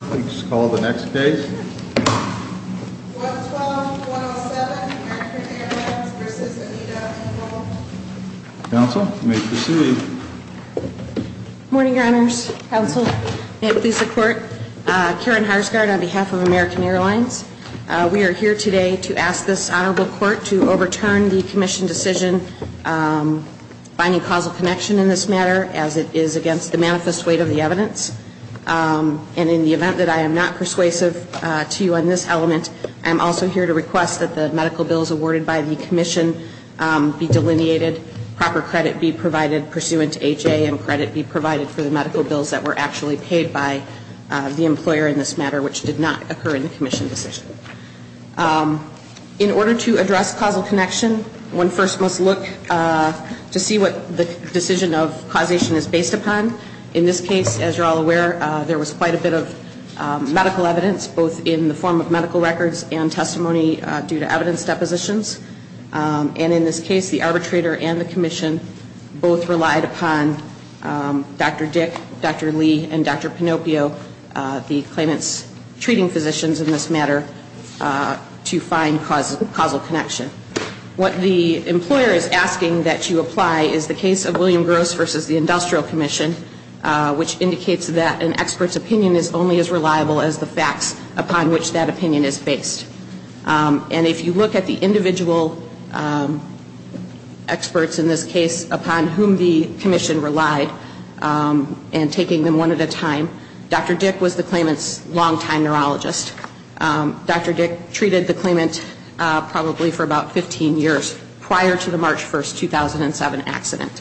Please call the next case. 112-107 American Airlines v. Anita Ingle Counsel, you may proceed. Good morning, Your Honors. Counsel, May it please the Court. Karen Harsgaard on behalf of American Airlines. We are here today to ask this Honorable Court to overturn the Commission decision binding causal connection in this matter as it is against the manifest weight of the evidence. And in the event that I am not persuasive to you on this element, I am also here to request that the medical bills awarded by the Commission be delineated, proper credit be provided pursuant to HA and credit be provided for the medical bills that were actually paid by the employer in this matter, which did not occur in the Commission decision. In order to address causal connection, one first must look to see what the decision of causation is based upon. In this case, as you are all aware, there was quite a bit of medical evidence, both in the form of medical records and testimony due to evidence depositions. And in this case, the arbitrator and the Commission both relied upon Dr. Dick, Dr. Lee, and Dr. Pinopio, the claimant's treating physicians in this matter, to find causal connection. What the employer is asking that you apply is the case of William Gross versus the Industrial Commission, which indicates that an expert's opinion is only as reliable as the facts upon which that opinion is based. And if you look at the individual experts in this case upon whom the Commission relied, and taking them one at a time, Dr. Dick was the claimant's longtime neurologist. Dr. Dick treated the claimant probably for about 15 years prior to the March 1, 2007 accident.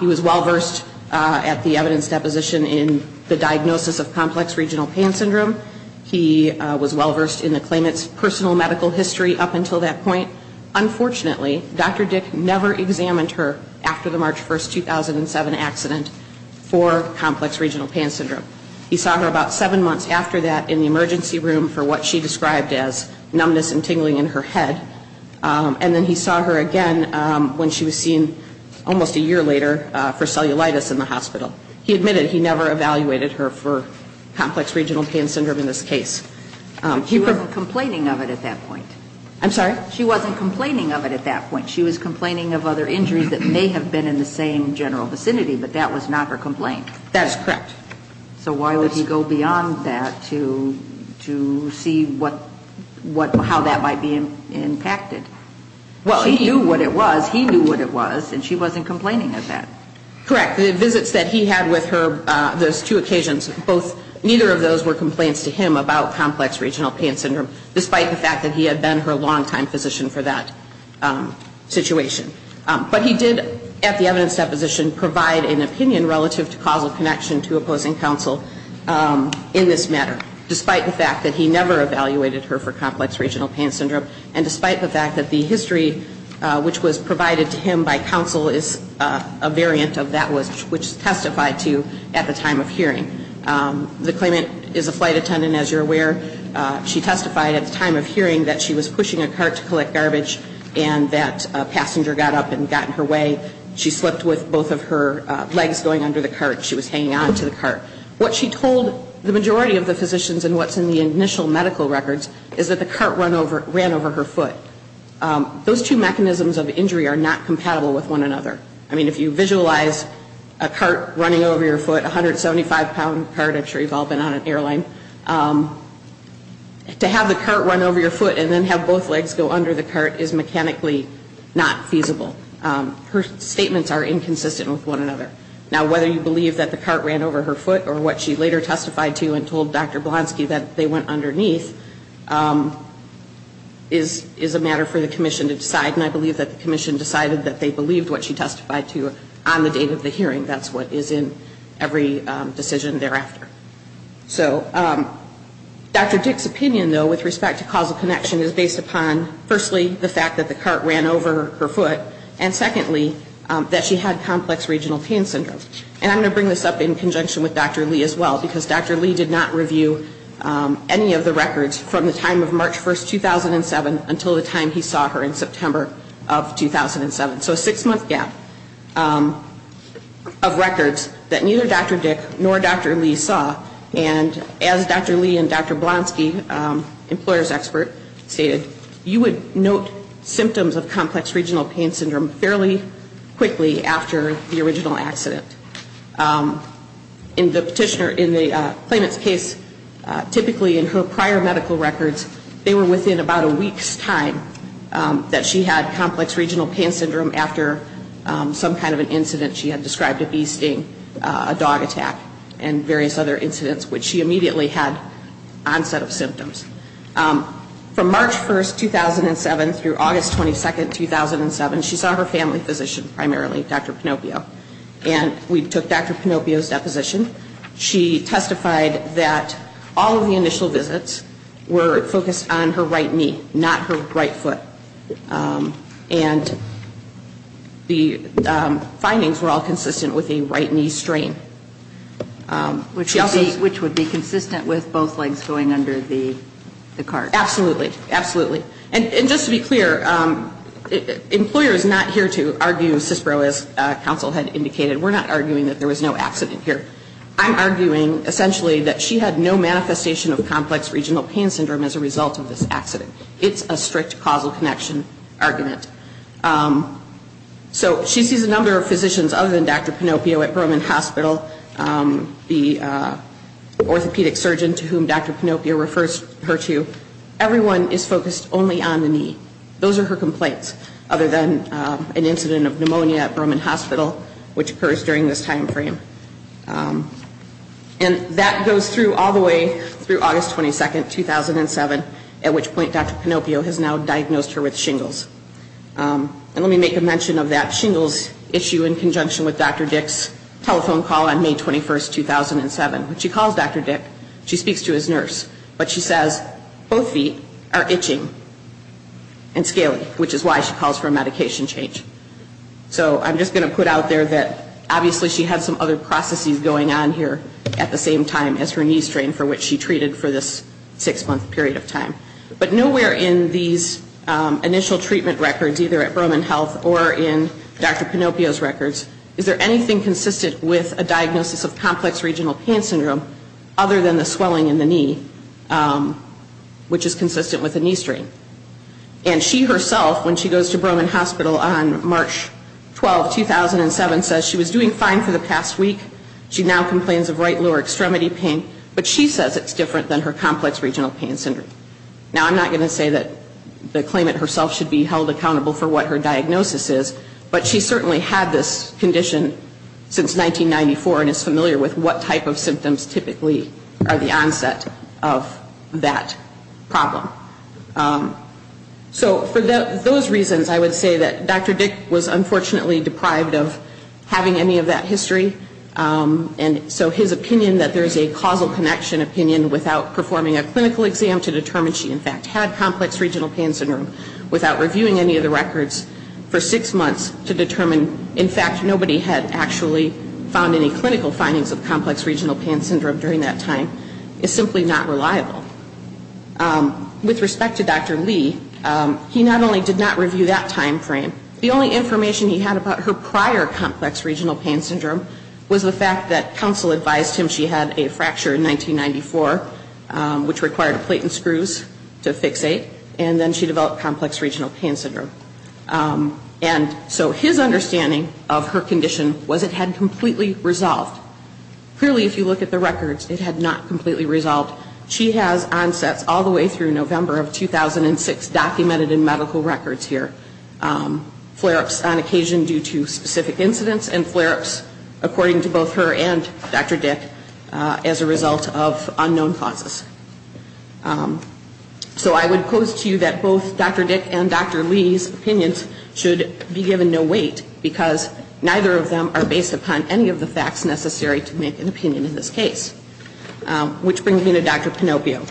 He was well-versed at the evidence deposition in the diagnosis of complex regional pain syndrome. He was well-versed in the claimant's personal medical history up until that point. Unfortunately, Dr. Dick never examined her after the March 1, 2007 accident for complex regional pain syndrome. He saw her about seven months after that in the emergency room for what she described as numbness and tingling in her head. And then he saw her again when she was seen almost a year later for cellulitis in the hospital. He admitted he never evaluated her for complex regional pain syndrome in this case. But she wasn't complaining of it at that point. I'm sorry? She wasn't complaining of it at that point. She was complaining of other injuries that may have been in the same general vicinity, but that was not her complaint. That is correct. So why would he go beyond that to see how that might be impacted? She knew what it was. He knew what it was. And she wasn't complaining of that. Correct. The visits that he had with her, those two occasions, neither of those were complaints to him about complex regional pain syndrome, despite the fact that he had been her longtime physician for that situation. But he did, at the evidence deposition, provide an opinion relative to causal connection to opposing counsel in this matter, despite the fact that he never evaluated her for complex regional pain syndrome, and despite the fact that the history which was provided to him by counsel is a variant of that which testified to at the time of hearing. The claimant is a flight attendant, as you're aware. She testified at the time of hearing that she was pushing a cart to collect garbage and that a passenger got up and got in her way. She slipped with both of her legs going under the cart. She was hanging on to the cart. What she told the majority of the physicians and what's in the initial medical records is that the cart ran over her foot. Those two mechanisms of injury are not compatible with one another. I mean, if you visualize a cart running over your foot, a 175-pound cart, I'm sure you've all been on an airline, to have the cart run over your foot and then have both legs go under the cart is mechanically not feasible. Her statements are inconsistent with one another. Now, whether you believe that the cart ran over her foot or what she later testified to and told Dr. Blonsky that they went underneath is a matter for the commission to decide, and I believe that the commission decided that they believed what she testified to on the date of the hearing. That's what is in every decision thereafter. So Dr. Dick's opinion, though, with respect to causal connection is based upon, firstly, the fact that the cart ran over her foot, and secondly, that she had complex regional pain syndrome. And I'm going to bring this up in conjunction with Dr. Lee as well, because Dr. Lee did not review any of the records from the time of March 1, 2007, until the time he saw her in September of 2007. So a six-month gap of records that neither Dr. Dick nor Dr. Lee saw, and as Dr. Lee and Dr. Blonsky, an employer's expert, stated, you would note symptoms of complex regional pain syndrome fairly quickly after the original accident. In the petitioner, in the claimant's case, typically in her prior medical records, they were within about a week's time that she had complex regional pain syndrome after some kind of an incident she had described, a bee sting, a dog attack, and various other incidents, which she immediately had onset of symptoms. From March 1, 2007 through August 22, 2007, she saw her family physician primarily, Dr. Pinopio, and we took Dr. Pinopio's deposition. She testified that all of the initial visits were focused on her right knee, not her right foot. And the findings were all consistent with a right knee strain. Which would be consistent with both legs going under the cart. Absolutely. Absolutely. And just to be clear, employer is not here to argue CISPRO, as counsel had indicated. We're not arguing that there was no accident here. I'm arguing, essentially, that she had no manifestation of complex regional pain syndrome as a result of this accident. It's a strict causal connection argument. So she sees a number of physicians other than Dr. Pinopio at Broman Hospital, the orthopedic surgeon to whom Dr. Pinopio refers her to. Everyone is focused only on the knee. Those are her complaints, other than an incident of pneumonia at Broman Hospital, which occurs during this timeframe. And that goes through all the way through August 22, 2007, at which point Dr. Pinopio has now diagnosed her with shingles. And let me make a mention of that shingles issue in conjunction with Dr. Dick's telephone call on May 21, 2007. When she calls Dr. Dick, she speaks to his nurse. But she says, both feet are itching and scaly, which is why she calls for a medication change. So I'm just going to put out there that obviously she had some other processes going on here at the same time as her knee strain, for which she treated for this six-month period of time. But nowhere in these initial treatment records, either at Broman Health or in Dr. Pinopio's records, is there anything consistent with a diagnosis of complex regional pain syndrome other than the swelling in the knee, which is consistent with a knee strain. And she herself, when she goes to Broman Hospital on March 12, 2007, says she was doing fine for the past week. She now complains of right lower extremity pain. But she says it's different than her complex regional pain syndrome. Now, I'm not going to say that the claimant herself should be held accountable for what her diagnosis is, but she certainly had this condition since 1994 and is familiar with what type of symptoms typically are the onset of that problem. So for those reasons, I would say that Dr. Dick was unfortunately deprived of having any of that history. And so his opinion that there's a causal connection opinion without performing a clinical exam to determine she in fact had complex regional pain syndrome, without reviewing any of the records for six months to determine, in fact, nobody had actually found any clinical findings of complex regional pain syndrome during that time, is simply not reliable. With respect to Dr. Lee, he not only did not review that time frame, the only information he had about her prior complex regional pain syndrome was the fact that counsel advised him she had a fracture in 1994, which required plate and screws to fixate, and then she developed complex regional pain syndrome. And so his understanding of her condition was it had completely resolved. Clearly, if you look at the records, it had not completely resolved. She has onsets all the way through November of 2006 documented in medical records here. Flare-ups on occasion due to specific incidents and flare-ups, according to both her and Dr. Dick, as a result of unknown causes. So I would pose to you that both Dr. Dick and Dr. Lee's opinions should be given no weight, because neither of them are based upon any of the facts necessary to make an opinion in this case. Which brings me to Dr. Pinopio.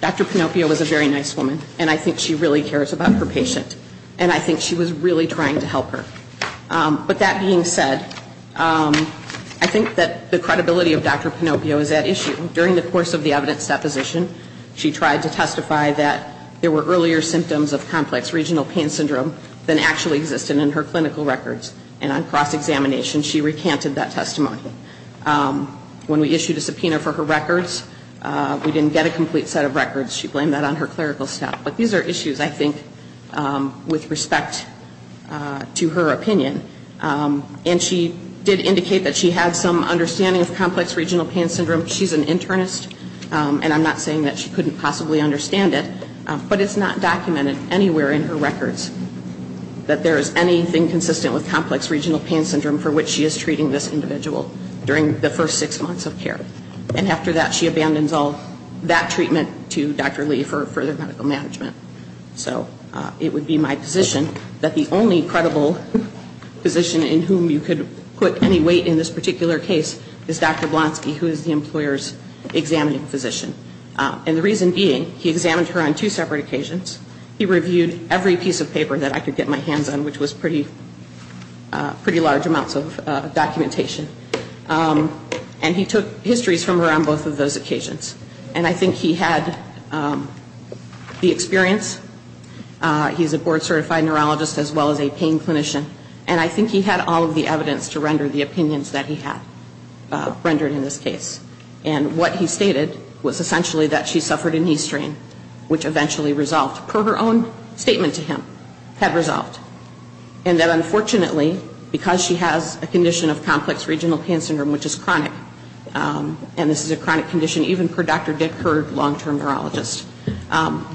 Dr. Pinopio was a very nice woman, and I think she really cares about her patient. And I think she was really trying to help her. But that being said, I think that the credibility of Dr. Pinopio is at issue. During the course of the evidence deposition, she tried to testify that there were earlier symptoms of complex regional pain syndrome than actually existed in her clinical records. And on cross-examination, she recanted that testimony. When we issued a subpoena for her records, we didn't get a complete set of records. She blamed that on her clerical staff. But these are issues, I think, with respect to her opinion. And she did indicate that she had some understanding of complex regional pain syndrome. She's an internist, and I'm not saying that she couldn't possibly understand it. But it's not documented anywhere in her records that there is anything consistent with complex regional pain syndrome for which she is treating this individual during the first six months of care. And after that, she abandons all that treatment to Dr. Lee for further medical management. So it would be my position that the only credible physician in whom you could put any weight in this particular case is Dr. Blonsky, who is the employer's examining physician. And the reason being, he examined her on two separate occasions. He reviewed every piece of paper that I could get my hands on, which was pretty large amounts of documentation. And he took histories from her on both of those occasions. And I think he had the experience. He's a board-certified neurologist as well as a pain clinician. And I think he had all of the evidence to render the opinions that he had rendered in this case. And what he stated was essentially that she suffered a knee strain, which eventually resolved, per her own statement to him, had resolved. And that unfortunately, because she has a condition of complex regional pain syndrome, which is chronic, and this is a chronic condition even per Dr. Dick, her long-term neurologist,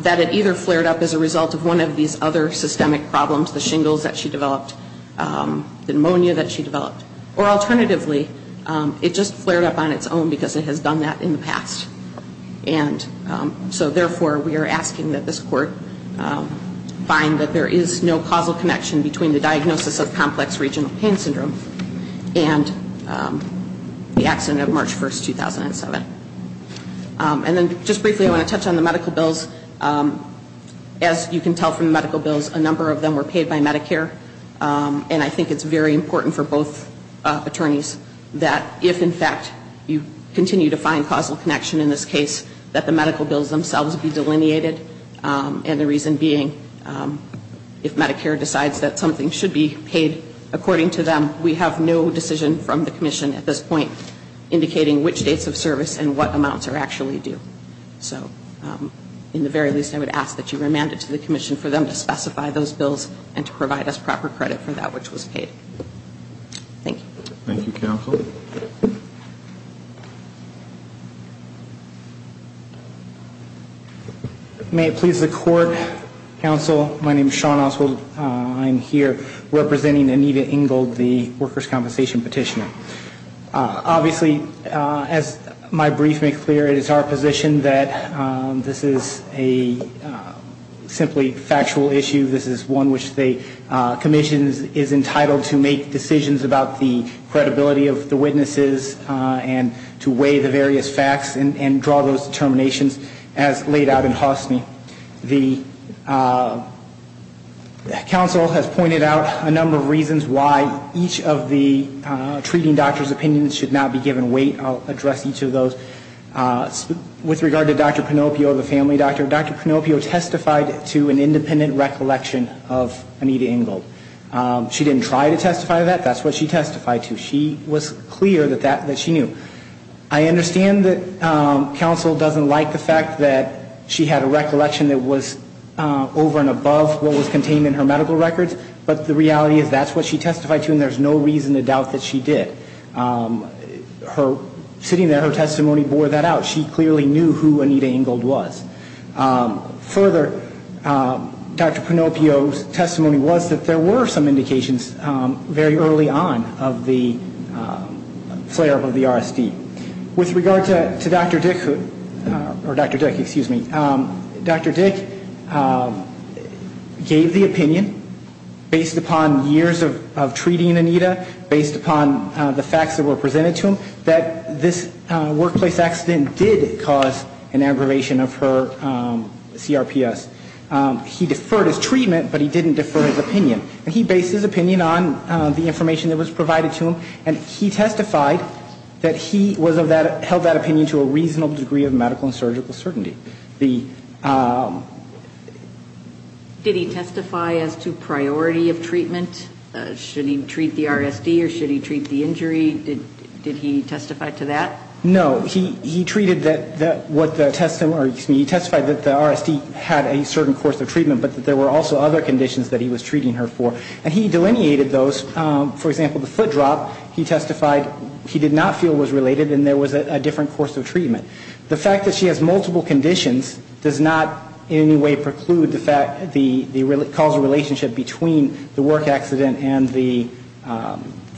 that it either flared up as a result of one of these other systemic problems, the shingles that she developed, the pneumonia that she developed, or alternatively, it just flared up on its own because it has done that in the past. And so therefore, we are asking that this court find that there is no causal connection between the diagnosis of complex regional pain syndrome and the accident of March 1, 2007. And then just briefly, I want to touch on the medical bills. As you can tell from the medical bills, a number of them were paid by Medicare. And I think it's very important for both attorneys that if, in fact, you continue to find causal connection in this case, that the medical bills themselves be delineated. And the reason being, if Medicare decides that something should be paid according to them, we have no decision from the commission at this point indicating which dates of service and what amounts are actually due. So in the very least, I would ask that you remand it to the commission for them to specify those bills and to provide us proper credit for that which was paid. Thank you. Thank you, counsel. May it please the court, counsel. My name is Sean Oswald. I'm here representing Anita Engel, the workers' compensation petitioner. Obviously, as my brief makes clear, it is our position that this is a simply factual issue. This is one which the commission is entitled to make decisions about the credibility of the witnesses and to weigh the various facts and draw those determinations as laid out in Hosni. The counsel has pointed out a number of reasons why each of the treating doctor's opinions should not be given weight. I'll address each of those. With regard to Dr. Pinopio, the family doctor, Dr. Pinopio testified to an independent recollection of Anita Engel. She didn't try to testify to that. That's what she testified to. She was clear that she knew. I understand that counsel doesn't like the fact that she had a recollection that was over and above what was contained in her medical records, but the reality is that's what she testified to and there's no reason to doubt that she did. Sitting there, her testimony bore that out. She clearly knew who Anita Engel was. Further, Dr. Pinopio's testimony was that there were some indications very early on of the flare-up of the RSD. With regard to Dr. Dick, or Dr. Dick, excuse me, Dr. Dick gave the opinion, based upon years of treating Anita, based upon the facts that were presented to him, that this workplace accident did cause an aggravation of her CRPS. He deferred his treatment, but he didn't defer his opinion. And he based his opinion on the information that was provided to him, and he testified that he held that opinion to a reasonable degree of medical and surgical certainty. Did he testify as to priority of treatment? Should he treat the RSD or should he treat the injury? Did he testify to that? No. He treated what the testimony, or excuse me, he testified that the RSD had a certain course of treatment, but that there were also other conditions that he was treating her for. And he delineated those. For example, the foot drop, he testified he did not feel was related and there was a different course of treatment. The fact that she has multiple conditions does not in any way preclude the causal relationship between the work accident and the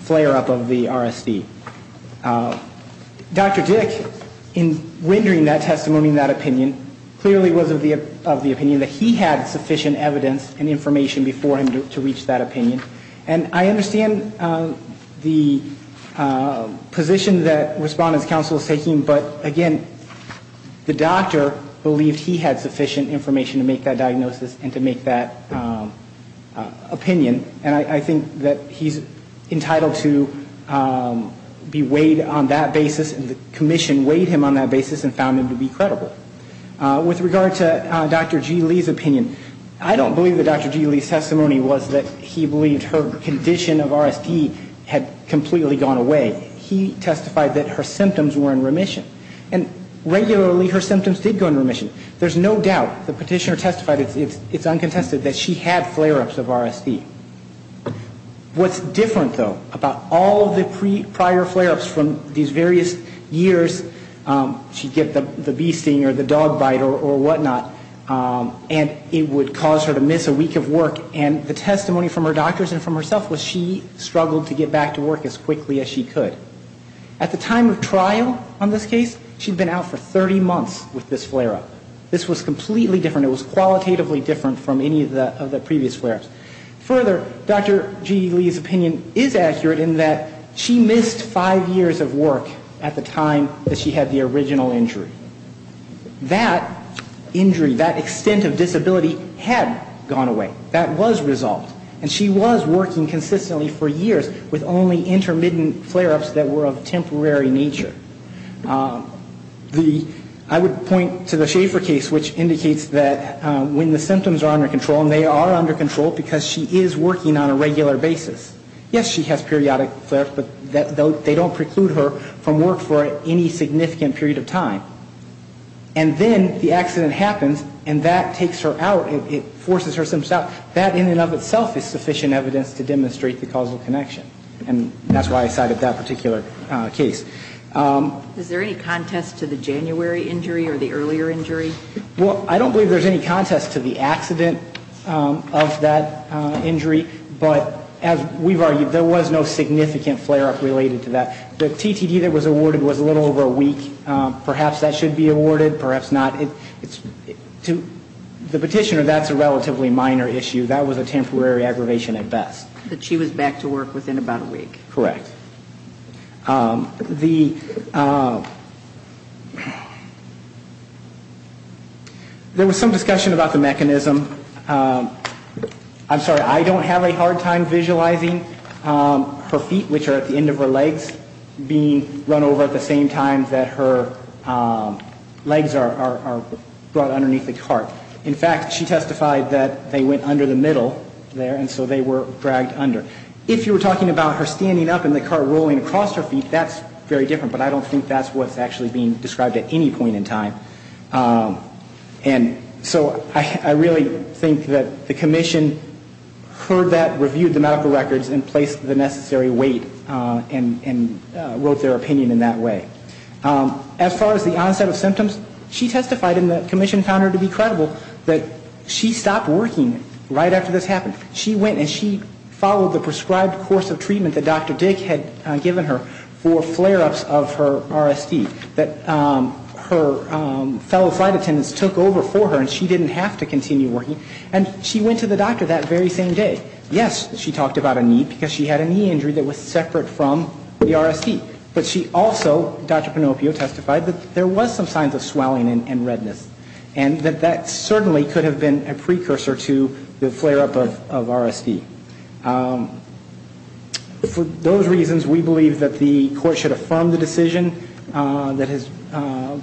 flare-up of the RSD. Dr. Dick, in rendering that testimony and that opinion, clearly was of the opinion that he had sufficient evidence and information before him to reach that opinion. And I understand the position that Respondent's Counsel is taking, but again, the doctor believed he had sufficient information to make that diagnosis and to make that opinion. And I think that he's entitled to be weighed on that basis, and the commission weighed him on that basis and found him to be credible. With regard to Dr. G. Lee's opinion, I don't believe that Dr. G. Lee's testimony was that he believed her condition of RSD had completely gone away. He testified that her symptoms were in remission. And regularly her symptoms did go in remission. There's no doubt, the petitioner testified, it's uncontested, that she had flare-ups of RSD. What's different, though, about all the prior flare-ups from these various years, she'd get the bee sting or the dog bite or whatnot, and it would cause her to miss a week of work, and the testimony from her doctors and from herself was she struggled to get back to work as quickly as she could. At the time of trial on this case, she'd been out for 30 months with this flare-up. This was completely different. It was qualitatively different from any of the previous flare-ups. Further, Dr. G. Lee's opinion is accurate in that she missed five years of work at the time that she had the original injury. That injury, that extent of disability had gone away. That was resolved. And she was working consistently for years with only intermittent flare-ups that were of temporary nature. I would point to the Schaefer case, which indicates that when the symptoms are under control, and they are under control because she is working on a regular basis, yes, she has periodic flare-ups, but they don't preclude her from work for any significant period of time. And then the accident happens, and that takes her out. It forces her symptoms out. That in and of itself is sufficient evidence to demonstrate the causal connection, and that's why I cited that particular case. Is there any contest to the January injury or the earlier injury? Well, I don't believe there's any contest to the accident of that injury, but as we've argued, there was no significant flare-up related to that. The TTD that was awarded was a little over a week. Perhaps that should be awarded, perhaps not. To the petitioner, that's a relatively minor issue. That was a temporary aggravation at best. But she was back to work within about a week. Correct. There was some discussion about the mechanism. I'm sorry, I don't have a hard time visualizing her feet, which are at the end of her legs, being run over at the same time that her legs are brought underneath the cart. In fact, she testified that they went under the middle there, and so they were dragged under. If you were talking about her standing up and the cart rolling across her feet, that's very different, but I don't think that's what's actually being described at any point in time. And so I really think that the commission heard that, reviewed the medical records, and placed the necessary weight and wrote their opinion in that way. As far as the onset of symptoms, she testified, and the commission found her to be credible, that she stopped working right after this happened. She went and she followed the prescribed course of treatment that Dr. Dick had given her for flare-ups of her RSD, that her fellow flight attendants took over for her and she didn't have to continue working. And she went to the doctor that very same day. Yes, she talked about a knee, because she had a knee injury that was separate from the RSD. But she also, Dr. Pinopio testified, that there was some signs of swelling and redness, and that that certainly could have been a precursor to the flare-up of RSD. For those reasons, we believe that the court should affirm the decision that has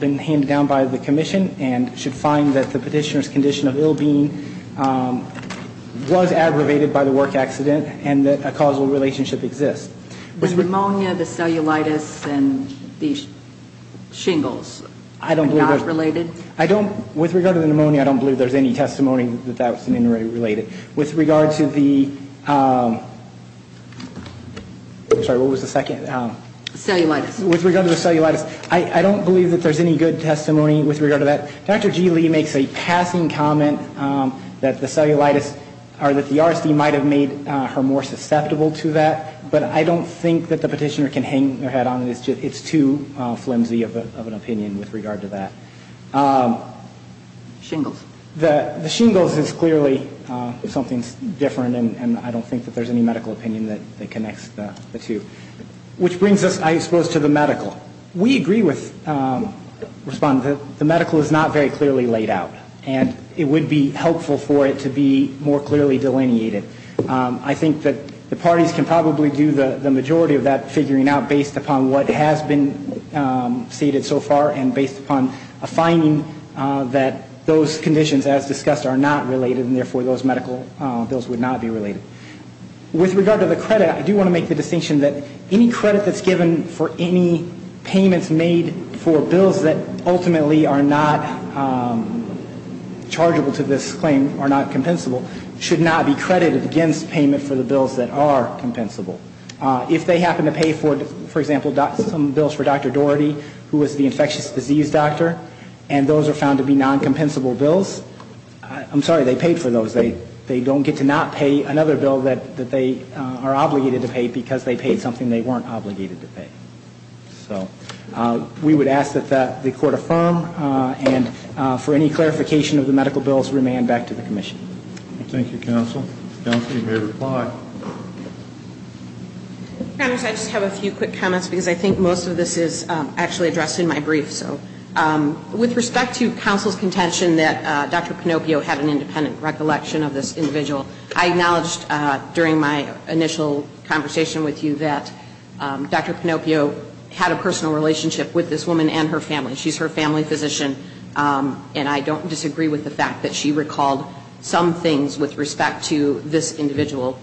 been handed down by the commission and should find that the petitioner's condition of ill-being was aggravated by the work accident and that a causal relationship exists. The pneumonia, the cellulitis, and the shingles, are not related? I don't, with regard to the pneumonia, I don't believe there's any testimony that that was related. With regard to the, I'm sorry, what was the second? Cellulitis. With regard to the cellulitis, I don't believe that there's any good testimony with regard to that. Dr. G. Lee makes a passing comment that the cellulitis, or that the RSD might have made her more susceptible to that, but I don't think that the petitioner can hang their head on it. It's too flimsy of an opinion with regard to that. Shingles. The shingles is clearly something different, and I don't think that there's any medical opinion that connects the two. Which brings us, I suppose, to the medical. We agree with Respondent that the medical is not very clearly laid out, and it would be helpful for it to be more clearly delineated. I think that the parties can probably do the majority of that figuring out based upon what has been stated so far and based upon a finding that those conditions, as discussed, are not related, and therefore those medical bills would not be related. With regard to the credit, I do want to make the distinction that any credit that's given for any payments made for bills that ultimately are not chargeable to this claim, are not compensable, should not be credited against payment for the bills that are compensable. If they happen to pay, for example, some bills for Dr. Doherty, who was the infectious disease doctor, and those are found to be non-compensable bills, I'm sorry, they paid for those. They don't get to not pay another bill that they are obligated to pay because they paid something they weren't obligated to pay. We would ask that the Court affirm, and for any clarification of the medical bills, remand back to the Commission. Thank you, Counsel. Counsel, you may reply. Counsel, I just have a few quick comments because I think most of this is actually addressed in my brief. With respect to Counsel's contention that Dr. Pinopio had an independent recollection of this individual, I acknowledged during my initial conversation with you that Dr. Pinopio had a personal relationship with this woman and her family. She's her family physician, and I don't disagree with the fact that she recalled some things with respect to this individual.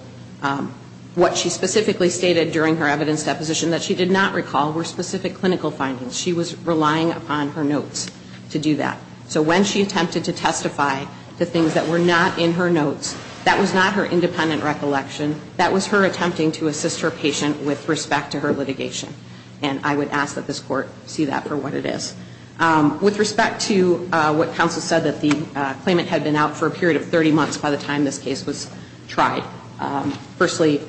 What she specifically stated during her evidence deposition that she did not recall were specific clinical findings. She was relying upon her notes to do that. So when she attempted to testify to things that were not in her notes, that was not her independent recollection. That was her attempting to assist her patient with respect to her litigation, and I would ask that this Court see that for what it is. With respect to what Counsel said, that the claimant had been out for a period of 30 months by the time this case was tried, firstly,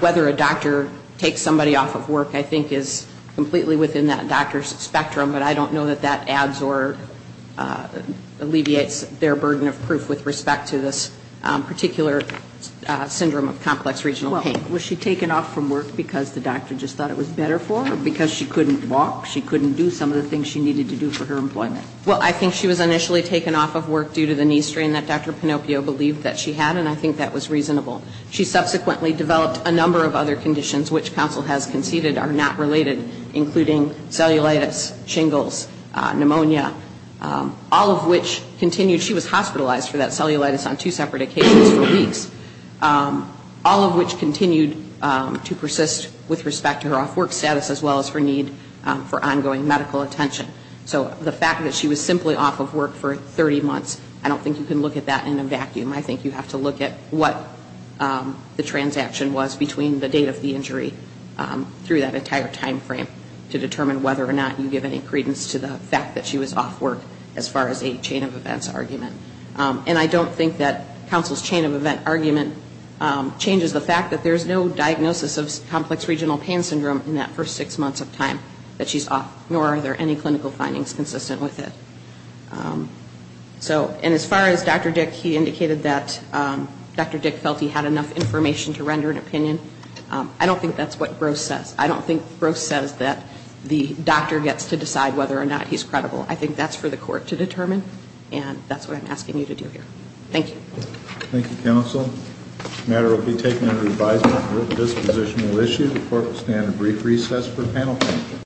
whether a doctor takes somebody off of work I think is completely within that doctor's spectrum, but I don't know that that adds or alleviates their burden of proof with respect to this particular syndrome of complex regional pain. Well, was she taken off from work because the doctor just thought it was better for her, or because she couldn't walk, she couldn't do some of the things she needed to do for her employment? Well, I think she was initially taken off of work due to the knee strain that Dr. Pinocchio believed that she had, and I think that was reasonable. She subsequently developed a number of other conditions which Counsel has conceded are not related, including cellulitis, shingles, pneumonia, all of which continued. She was hospitalized for that cellulitis on two separate occasions for weeks, all of which continued to persist with respect to her off-work status as well as her need for ongoing medical attention. So the fact that she was simply off of work for 30 months, I don't think you can look at that in a vacuum. I think you have to look at what the transaction was between the date of the injury through that entire time frame to determine whether or not you give any credence to the fact that she was off work as far as a chain of events argument. And I don't think that Counsel's chain of event argument changes the fact that there's no diagnosis of complex regional pain syndrome in that first six months of time that she's off, nor are there any clinical findings consistent with it. And as far as Dr. Dick, he indicated that Dr. Dick felt he had enough information to render an opinion. I don't think that's what Gross says. I don't think Gross says that the doctor gets to decide whether or not he's credible. I think that's for the court to determine, and that's what I'm asking you to do here. Thank you. Thank you, Counsel. This matter will be taken under advisement. This position will issue. The court will stand at brief recess for panel discussion.